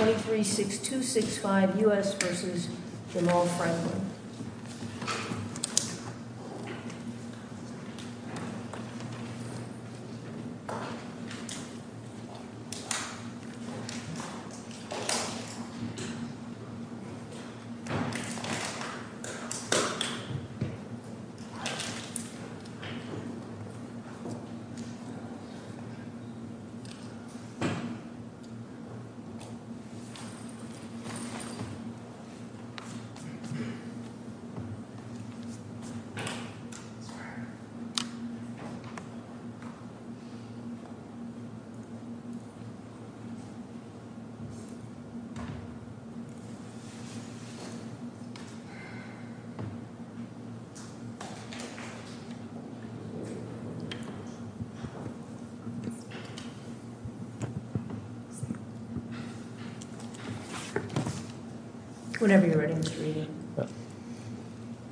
23.6265 U.S. v. Jamal Franklin.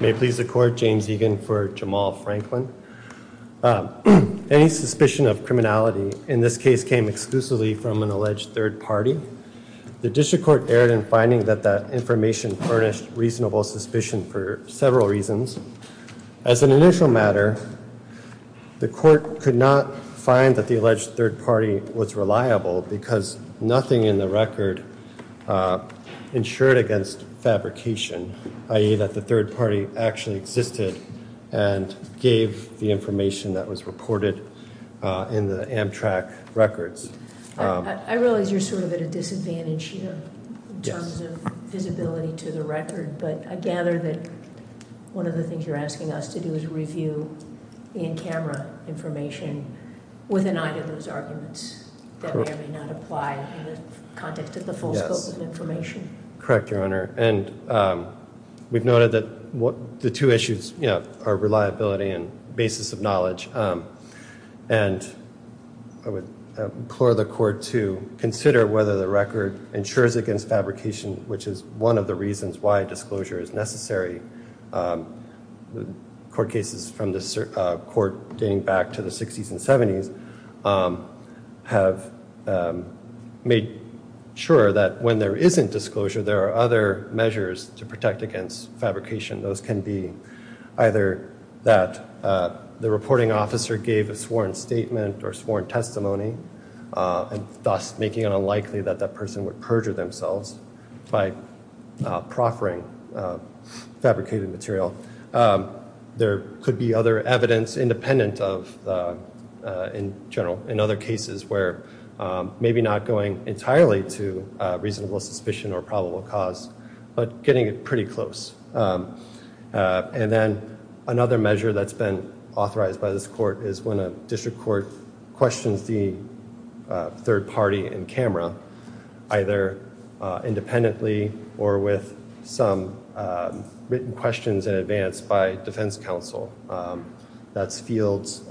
May it please the court, James Egan for Jamal Franklin. Any suspicion of criminality in this case came exclusively from an alleged third party. The district court erred in finding that that information furnished reasonable suspicion for several reasons. As an initial matter, the court could not find that the alleged third party was reliable because nothing in the record ensured against fabrication, i.e. that the third party actually existed and gave the information that was reported in the Amtrak records. I realize you're sort of at a disadvantage here in terms of visibility to the record, but I gather that one of the things you're asking us to do is review the in-camera information with an eye to those arguments that may or may not apply in the context of the full scope of information. Correct, Your Honor. And we've noted that the two issues are reliability and basis of knowledge. And I would implore the court to consider whether the record ensures against fabrication, which is one of the reasons why disclosure is necessary. Court cases from the court dating back to the 60s and 70s have made sure that when there isn't disclosure, there are other measures to protect against fabrication. Those can be either that the reporting officer gave a sworn statement or sworn testimony, thus making it unlikely that that person would perjure themselves by proffering fabricated material. There could be other evidence independent of, in general, in other cases where maybe not going entirely to reasonable suspicion or probable cause, but getting it pretty close. And then another measure that's been authorized by this court is when a district court questions the third party in camera, either independently or with some written questions in advance by defense counsel. That's Fields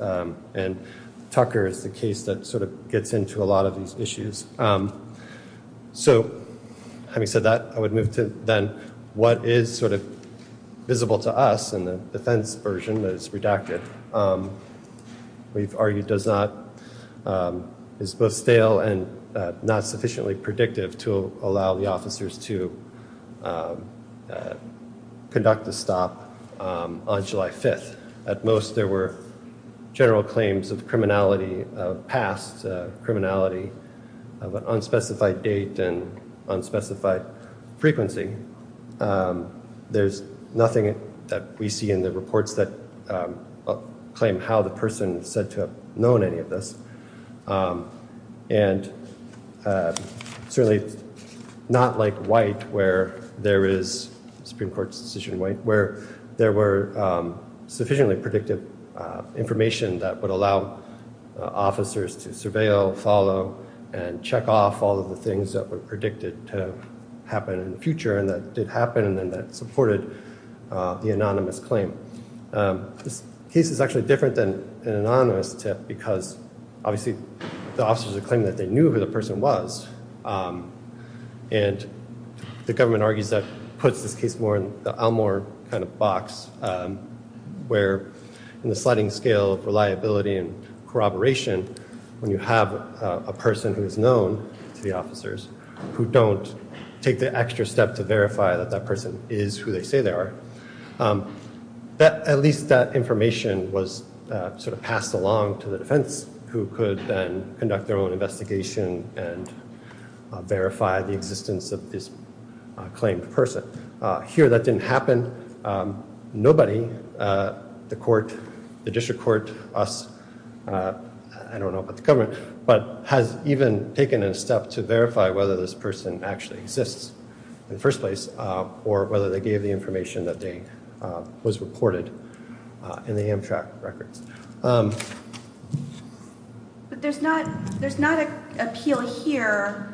and Tucker is the case that sort of gets into a lot of these issues. So having said that, I would move to then what is sort of visible to us in the defense version that is redacted. We've argued is both stale and not sufficiently predictive to allow the officers to conduct the stop on July 5th. At most, there were general claims of criminality of past criminality of an unspecified date and unspecified frequency. There's nothing that we see in the reports that claim how the person said to have known any of this. And certainly not like white where there is Supreme Court's decision where there were sufficiently predictive information that would allow officers to surveil, follow and check off all of the things that were predicted to happen in the future. And that did happen. And then that supported the anonymous claim. This case is actually different than an anonymous tip because obviously the officers are claiming that they knew who the person was. And the government argues that puts this case more in the Elmore kind of box where in the sliding scale of reliability and corroboration, when you have a person who is known to the officers who don't take the extra step to verify that that person is who they say they are. At least that information was sort of passed along to the defense who could then conduct their own investigation and verify the existence of this claimed person. Here, that didn't happen. Nobody, the court, the district court, us, I don't know about the government, but has even taken a step to verify whether this person actually exists in the first place or whether they gave the information that was reported in the Amtrak records. But there's not an appeal here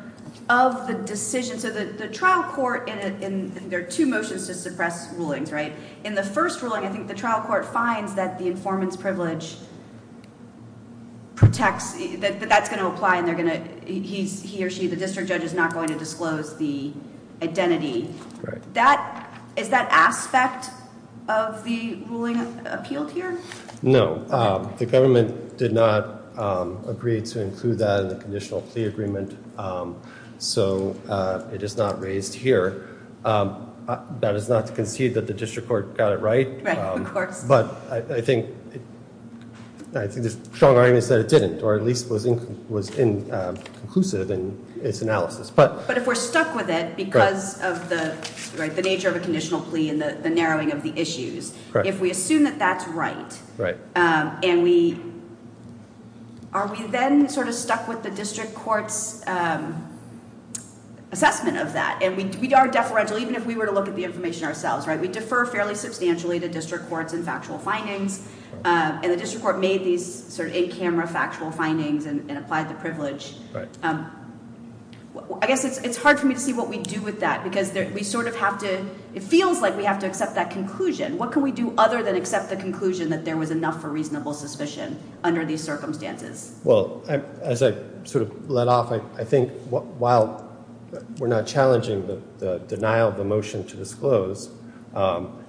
of the decision. So the trial court, and there are two motions to suppress rulings, right? In the first ruling, I think the trial court finds that the informant's privilege protects, that that's going to apply and he or she, the district judge, is not going to disclose the identity. Is that aspect of the ruling appealed here? No. The government did not agree to include that in the conditional plea agreement, so it is not raised here. That is not to concede that the district court got it right. Right, of course. But I think the strong argument is that it didn't, or at least was inconclusive in its analysis. But if we're stuck with it because of the nature of a conditional plea and the narrowing of the issues, if we assume that that's right, and we, are we then sort of stuck with the district court's assessment of that? And we are deferential even if we were to look at the information ourselves, right? I guess it's hard for me to see what we do with that because we sort of have to, it feels like we have to accept that conclusion. What can we do other than accept the conclusion that there was enough for reasonable suspicion under these circumstances? Well, as I sort of let off, I think while we're not challenging the denial of the motion to disclose,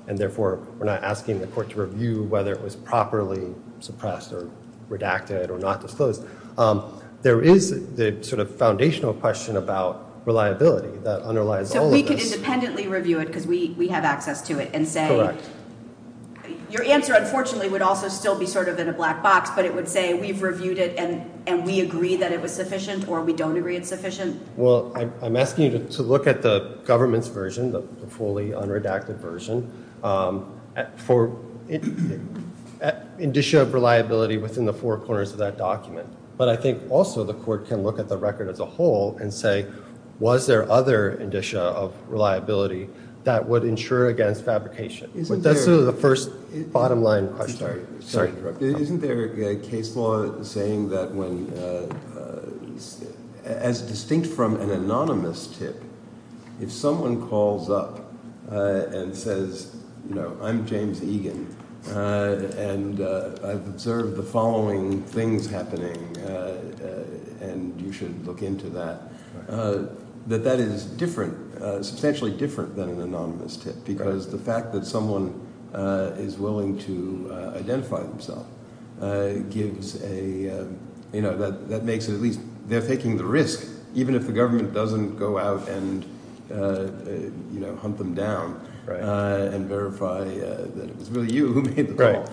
and therefore we're not asking the court to review whether it was properly suppressed or redacted or not disclosed, there is the sort of foundational question about reliability that underlies all of this. So we can independently review it because we have access to it and say. Correct. Your answer, unfortunately, would also still be sort of in a black box, but it would say we've reviewed it and we agree that it was sufficient or we don't agree it's sufficient. Well, I'm asking you to look at the government's version, the fully unredacted version, for indicia of reliability within the four corners of that document. But I think also the court can look at the record as a whole and say, was there other indicia of reliability that would ensure against fabrication? But that's sort of the first bottom line question. Isn't there a case law saying that as distinct from an anonymous tip, if someone calls up and says, I'm James Egan, and I've observed the following things happening, and you should look into that, that that is different, substantially different than an anonymous tip? Because the fact that someone is willing to identify themselves gives a, you know, that makes it at least, they're taking the risk, even if the government doesn't go out and, you know, hunt them down and verify that it was really you who made the call.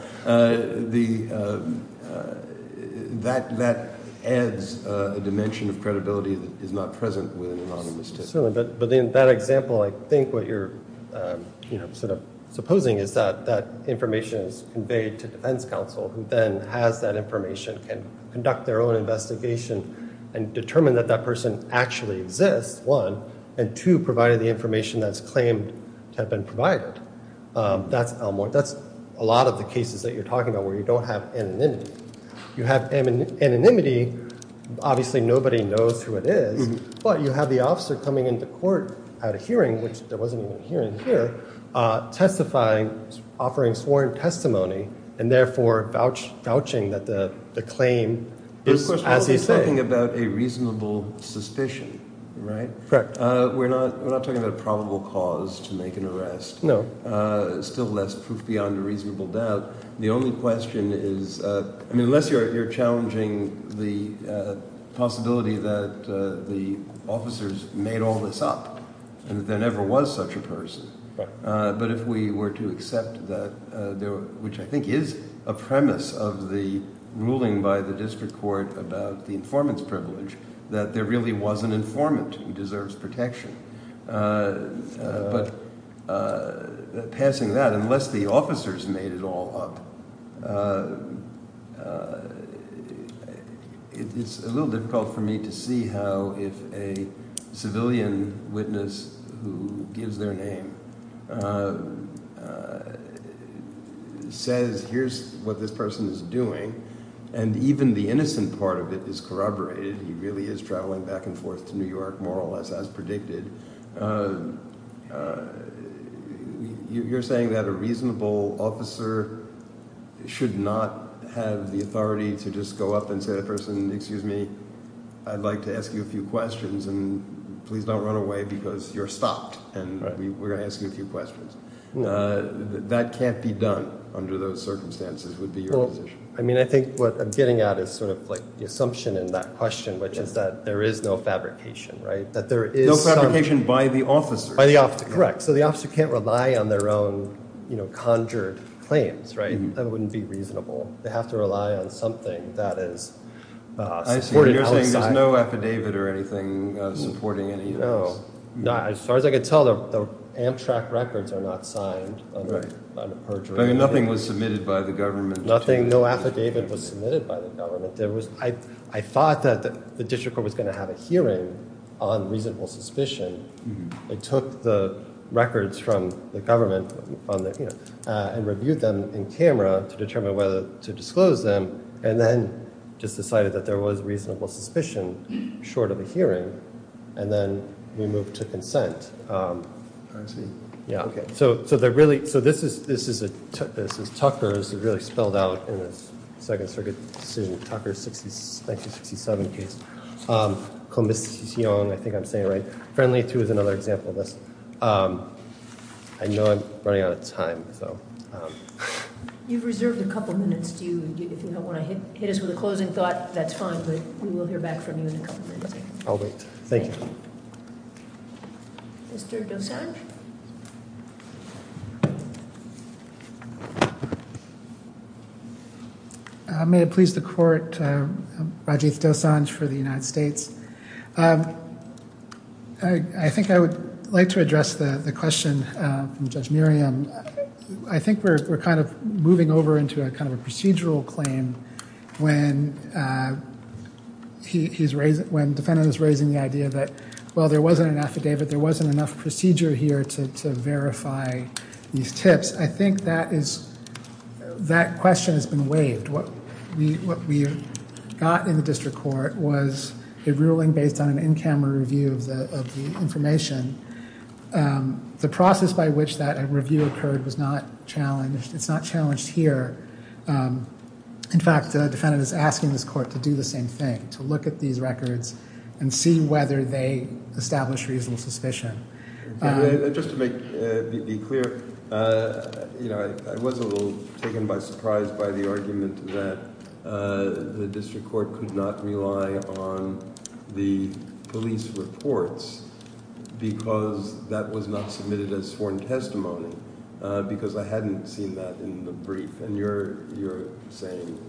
That adds a dimension of credibility that is not present with an anonymous tip. Certainly, but in that example, I think what you're, you know, sort of supposing is that that information is conveyed to defense counsel, who then has that information, can conduct their own investigation and determine that that person actually exists, one, and two, provided the information that's claimed to have been provided. That's a lot of the cases that you're talking about where you don't have anonymity. You have anonymity. Obviously, nobody knows who it is, but you have the officer coming into court at a hearing, which there wasn't even a hearing here, testifying, offering sworn testimony, and therefore vouching that the claim is as he said. We're talking about a reasonable suspicion, right? Correct. We're not talking about a probable cause to make an arrest. No. Still less proof beyond a reasonable doubt. The only question is, I mean, unless you're challenging the possibility that the officers made all this up and that there never was such a person. But if we were to accept that, which I think is a premise of the ruling by the district court about the informant's privilege, that there really was an informant who deserves protection. But passing that, unless the officers made it all up, it's a little difficult for me to see how if a civilian witness who gives their name says, here's what this person is doing, and even the innocent part of it is corroborated. He really is traveling back and forth to New York, more or less as predicted. You're saying that a reasonable officer should not have the authority to just go up and say to the person, excuse me, I'd like to ask you a few questions, and please don't run away because you're stopped, and we're going to ask you a few questions. That can't be done under those circumstances, would be your position. I mean, I think what I'm getting at is sort of like the assumption in that question, which is that there is no fabrication, right? No fabrication by the officer. Correct. So the officer can't rely on their own conjured claims, right? That wouldn't be reasonable. They have to rely on something that is supported outside. You're saying there's no affidavit or anything supporting any of this. No. As far as I can tell, the Amtrak records are not signed under perjury. Nothing was submitted by the government. No affidavit was submitted by the government. I thought that the district court was going to have a hearing on reasonable suspicion. It took the records from the government and reviewed them in camera to determine whether to disclose them, and then just decided that there was reasonable suspicion short of a hearing, and then we moved to consent. I see. Yeah. Okay. So this is Tucker. This is really spelled out in a Second Circuit decision. Tucker 1967 case. I think I'm saying it right. Friendly, too, is another example of this. I know I'm running out of time. You've reserved a couple minutes. If you don't want to hit us with a closing thought, that's fine, but we will hear back from you in a couple minutes. I'll wait. Thank you. Mr. Dosanjh. May it please the court, Rajiv Dosanjh for the United States. I think I would like to address the question from Judge Miriam. I think we're kind of moving over into a kind of procedural claim when defendant is raising the idea that, well, there wasn't an affidavit. There wasn't enough procedure here to verify these tips. I think that question has been waived. What we got in the district court was a ruling based on an in-camera review of the information. The process by which that review occurred was not challenged. It's not challenged here. In fact, the defendant is asking this court to do the same thing, to look at these records and see whether they establish reasonable suspicion. Just to be clear, I was a little taken by surprise by the argument that the district court could not rely on the police reports because that was not submitted as sworn testimony, because I hadn't seen that in the brief. And you're saying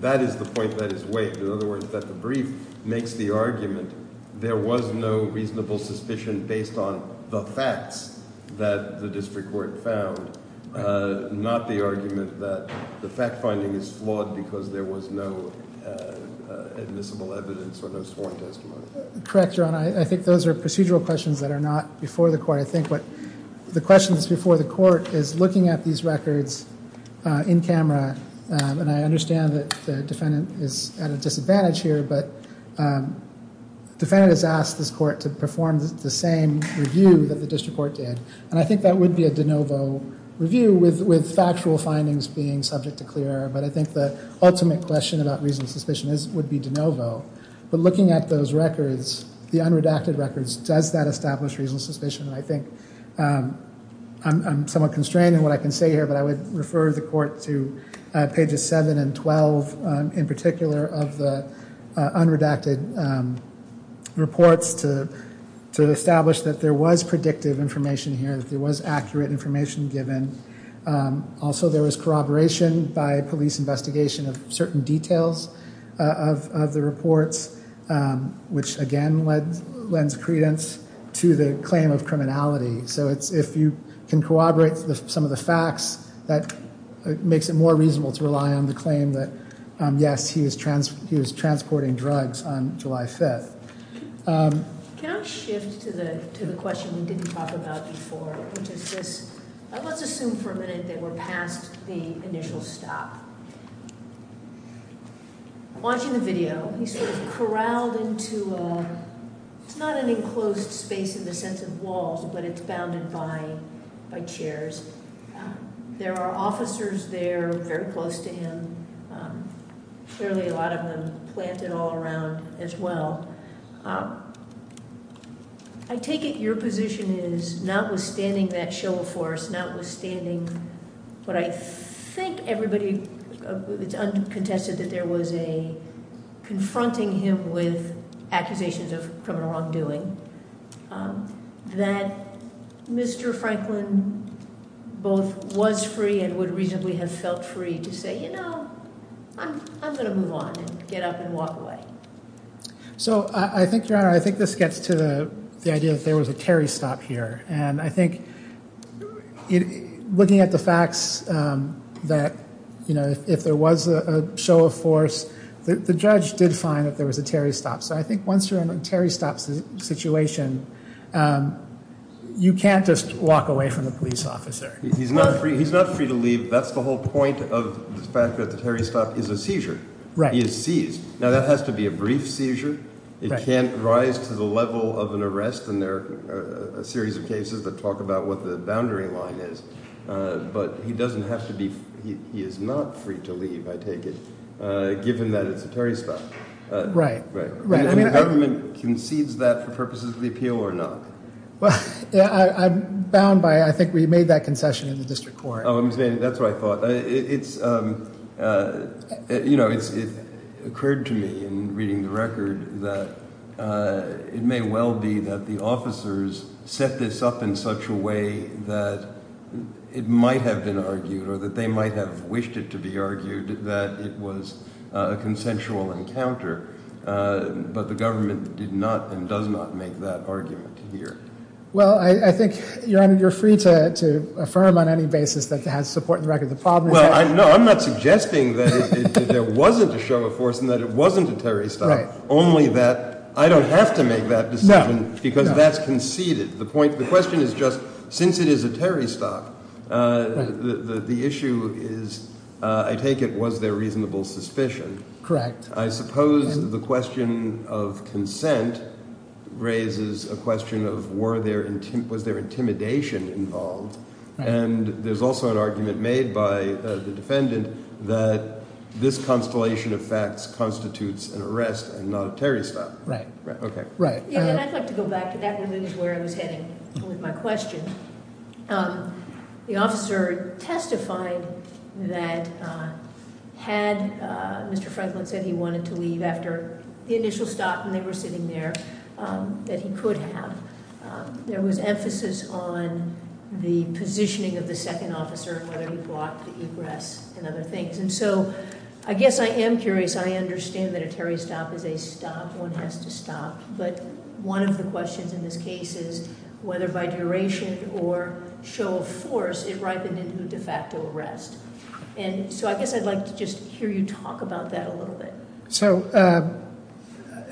that is the point that is waived. In other words, that the brief makes the argument there was no reasonable suspicion based on the facts that the district court found, not the argument that the fact-finding is flawed because there was no admissible evidence or no sworn testimony. Correct, Your Honor. I think those are procedural questions that are not before the court. I think what the question that's before the court is looking at these records in camera. And I understand that the defendant is at a disadvantage here, but the defendant has asked this court to perform the same review that the district court did. And I think that would be a de novo review with factual findings being subject to clear error. But I think the ultimate question about reasonable suspicion would be de novo. But looking at those records, the unredacted records, does that establish reasonable suspicion? And I think I'm somewhat constrained in what I can say here, but I would refer the court to pages 7 and 12, in particular of the unredacted reports to establish that there was predictive information here, that there was accurate information given. Also, there was corroboration by police investigation of certain details of the reports, which again lends credence to the claim of criminality. So if you can corroborate some of the facts, that makes it more reasonable to rely on the claim that, yes, he was transporting drugs on July 5th. Can I shift to the question we didn't talk about before, which is this, let's assume for a minute that we're past the initial stop. Watching the video, he's sort of corralled into a, it's not an enclosed space in the sense of walls, but it's bounded by chairs. There are officers there very close to him. Clearly a lot of them planted all around as well. I take it your position is, notwithstanding that show of force, but I think everybody contested that there was a confronting him with accusations of criminal wrongdoing, that Mr. Franklin both was free and would reasonably have felt free to say, you know, I'm going to move on and get up and walk away. So I think, Your Honor, I think this gets to the idea that there was a Terry stop here. And I think looking at the facts that, you know, if there was a show of force, the judge did find that there was a Terry stop. So I think once you're in a Terry stop situation, you can't just walk away from a police officer. He's not free to leave. That's the whole point of the fact that the Terry stop is a seizure. He is seized. Now, that has to be a brief seizure. It can't rise to the level of an arrest. And there are a series of cases that talk about what the boundary line is. But he doesn't have to be. He is not free to leave, I take it, given that it's a Terry stop. Right, right. I mean, the government concedes that for purposes of the appeal or not? Well, I'm bound by I think we made that concession in the district court. That's what I thought. It's, you know, it occurred to me in reading the record that it may well be that the officers set this up in such a way that it might have been argued or that they might have wished it to be argued that it was a consensual encounter. But the government did not and does not make that argument here. Well, I think, Your Honor, you're free to affirm on any basis that it has support in the record of the problem. Well, no, I'm not suggesting that there wasn't a show of force and that it wasn't a Terry stop. Right. Only that I don't have to make that decision because that's conceded. The question is just since it is a Terry stop, the issue is, I take it, was there reasonable suspicion? Correct. I suppose the question of consent raises a question of was there intimidation involved? And there's also an argument made by the defendant that this constellation of facts constitutes an arrest and not a Terry stop. Right. Okay. And I'd like to go back to where I was heading with my question. The officer testified that had Mr. Franklin said he wanted to leave after the initial stop and they were sitting there, that he could have. There was emphasis on the positioning of the second officer and whether he brought the egress and other things. And so I guess I am curious. I understand that a Terry stop is a stop. One has to stop. But one of the questions in this case is whether by duration or show of force it ripened into a de facto arrest. And so I guess I'd like to just hear you talk about that a little bit. So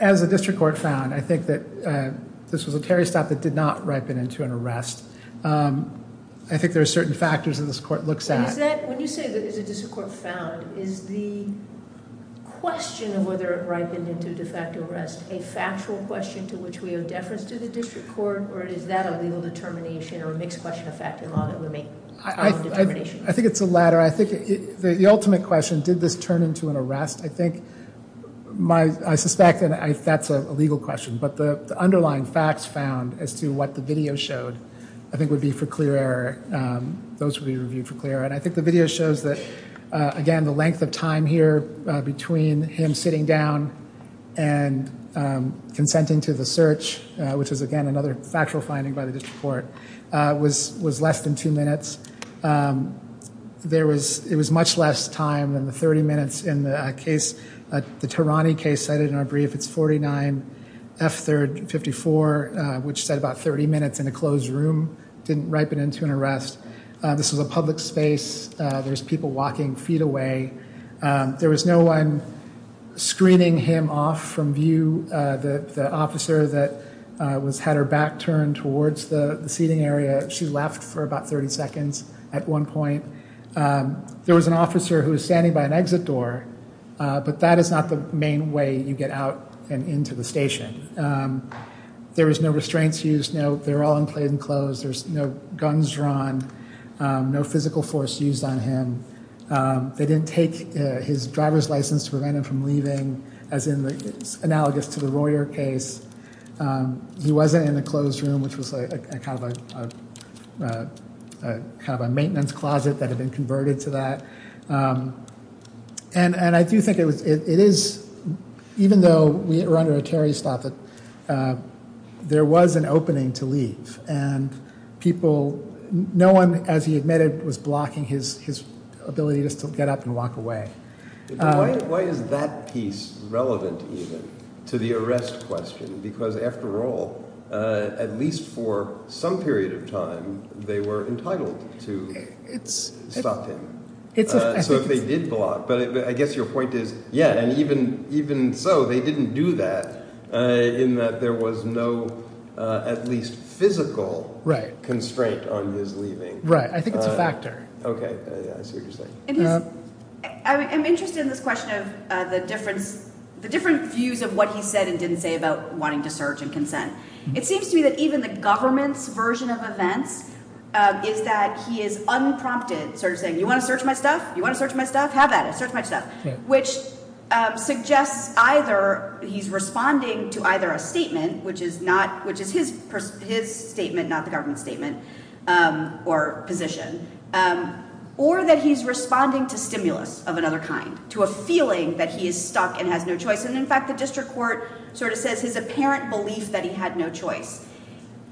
as a district court found, I think that this was a Terry stop that did not ripen into an arrest. I think there are certain factors that this court looks at. When you say that it's a district court found, is the question of whether it ripened into a de facto arrest a factual question to which we owe deference to the district court? Or is that a legal determination or a mixed question of fact in law that would make a determination? I think it's a latter. I think the ultimate question, did this turn into an arrest? I suspect that that's a legal question. But the underlying facts found as to what the video showed I think would be for clear error. Those would be reviewed for clear error. And I think the video shows that, again, the length of time here between him sitting down and consenting to the search, which is, again, another factual finding by the district court, was less than two minutes. It was much less time than the 30 minutes in the case. The Tarani case cited in our brief, it's 49 F3rd 54, which said about 30 minutes in a closed room didn't ripen into an arrest. This was a public space. There's people walking feet away. There was no one screening him off from view. The officer that had her back turned towards the seating area, she left for about 30 seconds at one point. There was an officer who was standing by an exit door, but that is not the main way you get out and into the station. There was no restraints used. They were all in plainclothes. There's no guns drawn, no physical force used on him. They didn't take his driver's license to prevent him from leaving, as in the analogous to the Royer case. He wasn't in the closed room, which was kind of a maintenance closet that had been converted to that. And I do think it is, even though we were under a Terry stop, that there was an opening to leave. And people, no one, as he admitted, was blocking his ability to still get up and walk away. Why is that piece relevant even to the arrest question? Because, after all, at least for some period of time, they were entitled to stop him. So if they did block, but I guess your point is, yeah, and even so, they didn't do that in that there was no at least physical constraint on his leaving. Right. I think it's a factor. Okay. I see what you're saying. I'm interested in this question of the different views of what he said and didn't say about wanting to search and consent. It seems to me that even the government's version of events is that he is unprompted sort of saying, You want to search my stuff? You want to search my stuff? Have at it. Search my stuff. Which suggests either he's responding to either a statement, which is his statement, not the government's statement or position, or that he's responding to stimulus of another kind, to a feeling that he is stuck and has no choice. And, in fact, the district court sort of says his apparent belief that he had no choice.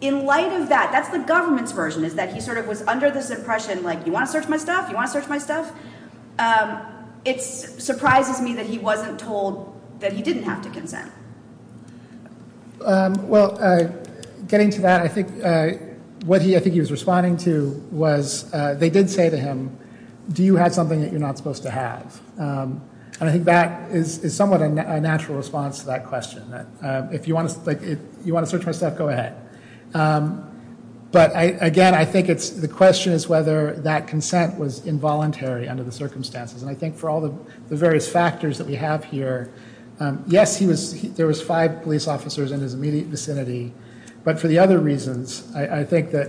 In light of that, that's the government's version, is that he sort of was under this impression like, You want to search my stuff? You want to search my stuff? It surprises me that he wasn't told that he didn't have to consent. Well, getting to that, what I think he was responding to was they did say to him, Do you have something that you're not supposed to have? And I think that is somewhat a natural response to that question. If you want to search my stuff, go ahead. But, again, I think the question is whether that consent was involuntary under the circumstances. And I think for all the various factors that we have here, yes, there was five police officers in his immediate vicinity. But for the other reasons, I think that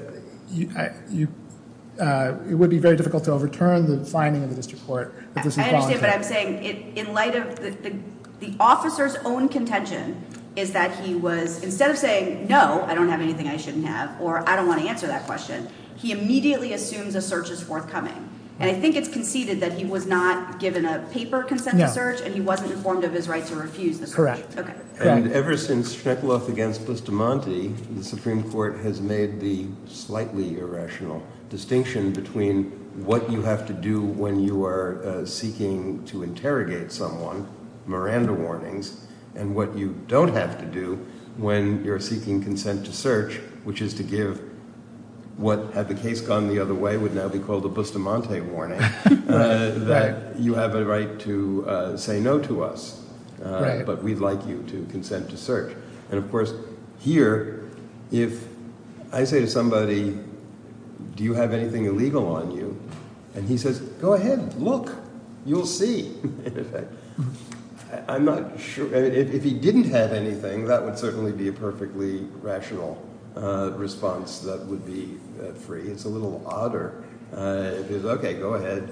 it would be very difficult to overturn the finding of the district court. I understand what I'm saying. In light of the officer's own contention, is that he was, instead of saying, No, I don't have anything I shouldn't have, or I don't want to answer that question, he immediately assumes a search is forthcoming. And I think it's conceded that he was not given a paper consent to search, and he wasn't informed of his right to refuse the search. And ever since Shnepeloff against Bustamante, the Supreme Court has made the slightly irrational distinction between what you have to do when you are seeking to interrogate someone, Miranda warnings, and what you don't have to do when you're seeking consent to search, which is to give what, had the case gone the other way, would now be called a Bustamante warning, that you have a right to say no to us, but we'd like you to consent to search. And, of course, here, if I say to somebody, Do you have anything illegal on you? And he says, Go ahead, look, you'll see. I'm not sure if he didn't have anything. That would certainly be a perfectly rational response. That would be free. It's a little odder. OK, go ahead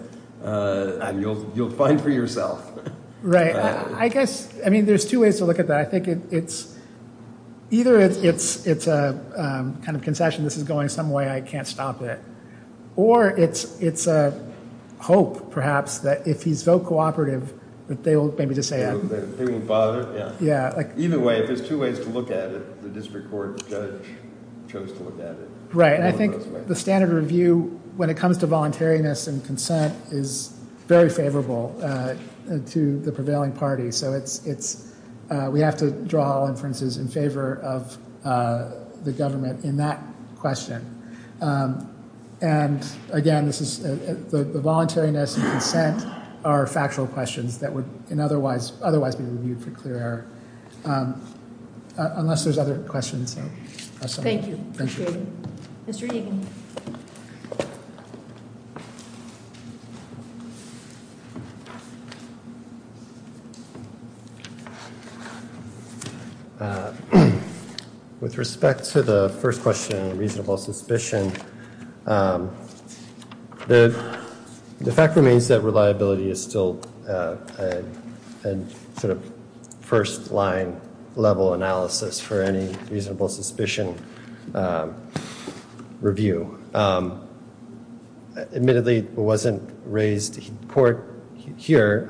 and you'll you'll find for yourself. Right. I guess I mean, there's two ways to look at that. I think it's either it's it's a kind of concession. This is going some way. I can't stop it. Or it's it's a hope, perhaps, that if he's so cooperative that they will maybe just say. They won't bother. Yeah. Yeah. Either way, if there's two ways to look at it, the district court judge chose to look at it. Right. I think the standard review when it comes to voluntariness and consent is very favorable to the prevailing party. So it's it's we have to draw inferences in favor of the government in that question. And again, this is the voluntariness and consent are factual questions that would otherwise otherwise be reviewed for clear. Unless there's other questions. Thank you. Mr. With respect to the first question, reasonable suspicion. The fact remains that reliability is still a sort of first line level analysis for any reasonable suspicion review. Admittedly, it wasn't raised court here.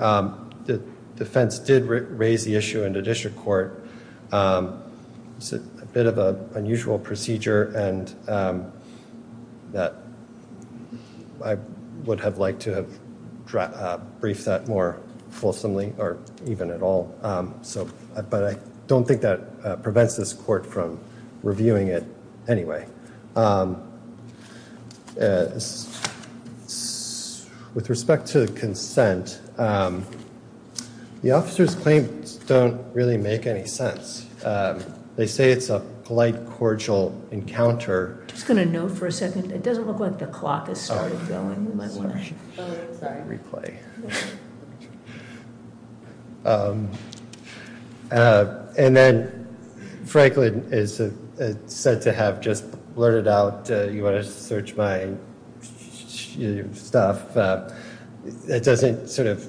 The defense did raise the issue in the district court. It's a bit of an unusual procedure and that I would have liked to have briefed that more fulsomely or even at all. So. But I don't think that prevents this court from reviewing it anyway. With respect to the consent. The officer's claims don't really make any sense. They say it's a polite, cordial encounter. It's going to know for a second. It doesn't look like the clock has started going. Replay. And then Franklin is said to have just blurted out. You want to search my stuff? It doesn't sort of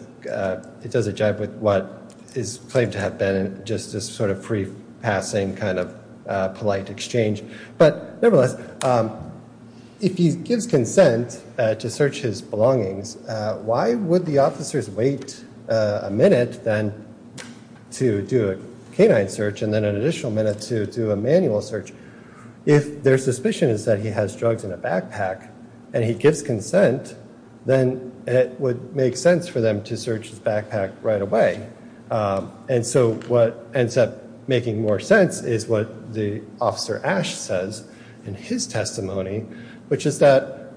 it doesn't jive with what is claimed to have been just this sort of free passing kind of polite exchange. But nevertheless, if he gives consent to search his belongings, why would the officers wait a minute then to do a search and then an additional minute to do a manual search? If their suspicion is that he has drugs in a backpack and he gives consent, then it would make sense for them to search his backpack right away. And so what ends up making more sense is what the officer Ash says in his testimony, which is that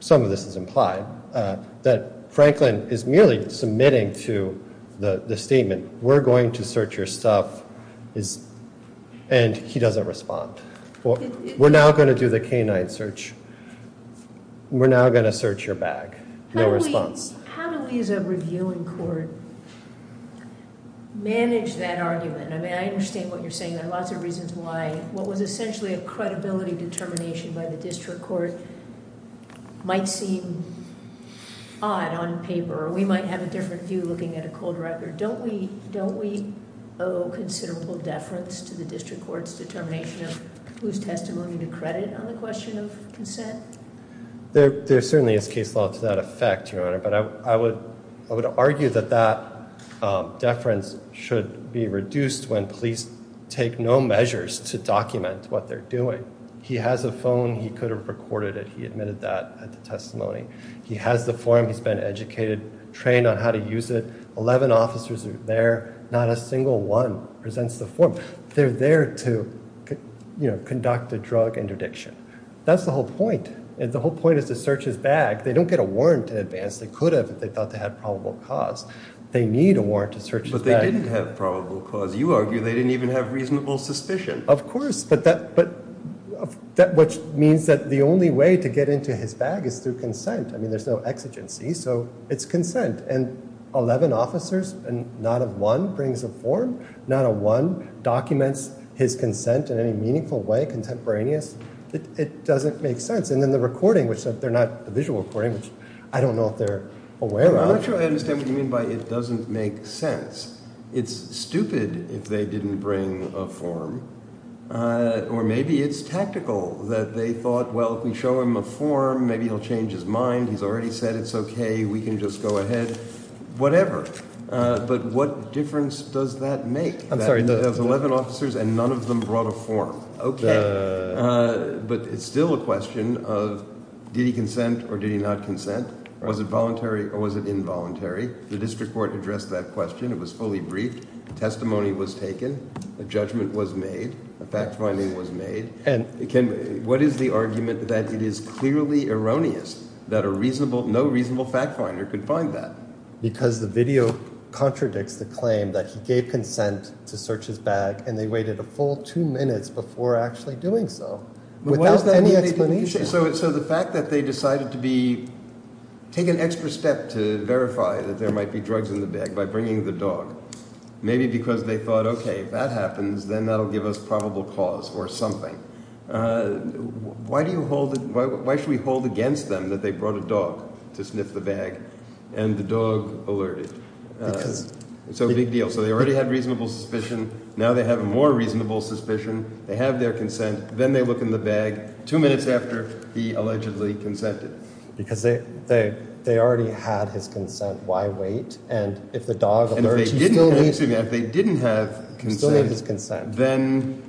some of this is implied that Franklin is merely submitting to the statement. We're going to search your stuff is and he doesn't respond. Well, we're now going to do the canine search. We're now going to search your bag. No response. How do we as a reviewing court manage that argument? I mean, I understand what you're saying. There are lots of reasons why what was essentially a credibility determination by the district court might seem odd on paper. We might have a different view looking at a cold record, don't we? Don't we owe considerable deference to the district court's determination of whose testimony to credit on the question of consent? There certainly is case law to that effect, Your Honor. But I would I would argue that that deference should be reduced when police take no measures to document what they're doing. He has a phone. He could have recorded it. He admitted that testimony. He has the form. He's been educated, trained on how to use it. Eleven officers are there. Not a single one presents the form. They're there to conduct a drug interdiction. That's the whole point. And the whole point is to search his bag. They don't get a warrant in advance. They could have if they thought they had probable cause. They need a warrant to search. But they didn't have probable cause. You argue they didn't even have reasonable suspicion. Of course. But that but that which means that the only way to get into his bag is through consent. I mean, there's no exigency. So it's consent. And eleven officers and not one brings a form. Not a one documents his consent in any meaningful way. Contemporaneous. It doesn't make sense. And then the recording, which they're not a visual recording, which I don't know if they're aware of. I'm not sure I understand what you mean by it doesn't make sense. It's stupid if they didn't bring a form or maybe it's tactical that they thought, well, if we show him a form, maybe he'll change his mind. He's already said it's OK. We can just go ahead. Whatever. But what difference does that make? I'm sorry. Eleven officers and none of them brought a form. But it's still a question of did he consent or did he not consent? Was it voluntary or was it involuntary? The district court addressed that question. It was fully briefed. Testimony was taken. A judgment was made. A fact finding was made. And what is the argument that it is clearly erroneous that a reasonable, no reasonable fact finder could find that? Because the video contradicts the claim that he gave consent to search his bag and they waited a full two minutes before actually doing so. So the fact that they decided to be take an extra step to verify that there might be drugs in the bag by bringing the dog, maybe because they thought, OK, if that happens, then that'll give us probable cause or something. Why do you hold it? Why should we hold against them that they brought a dog to sniff the bag and the dog alerted? It's a big deal. So they already had reasonable suspicion. Now they have a more reasonable suspicion. They have their consent. Then they look in the bag two minutes after he allegedly consented. Because they already had his consent. Why wait? And if the dog still didn't have his consent, then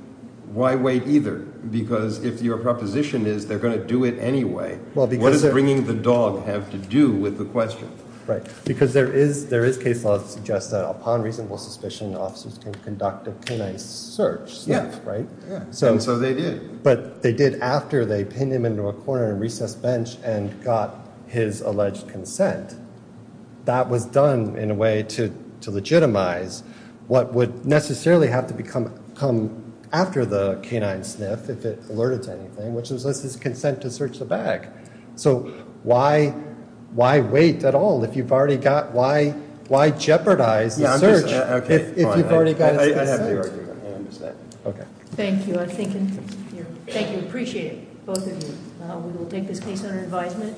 why wait either? Because if your proposition is they're going to do it anyway, what is bringing the dog have to do with the question? Right. Because there is there is case law that suggests that upon reasonable suspicion, officers can conduct a search. Yeah. Right. So and so they did. But they did after they pinned him into a corner and recess bench and got his alleged consent. That was done in a way to to legitimize what would necessarily have to become come after the canine sniff if it alerted to anything, which is this is consent to search the bag. So why? Why wait at all if you've already got? Why? Why jeopardize the search if you've already got it? I understand. Okay. Thank you. I think. Thank you. Appreciate it. Both of you. We will take this case under advisement.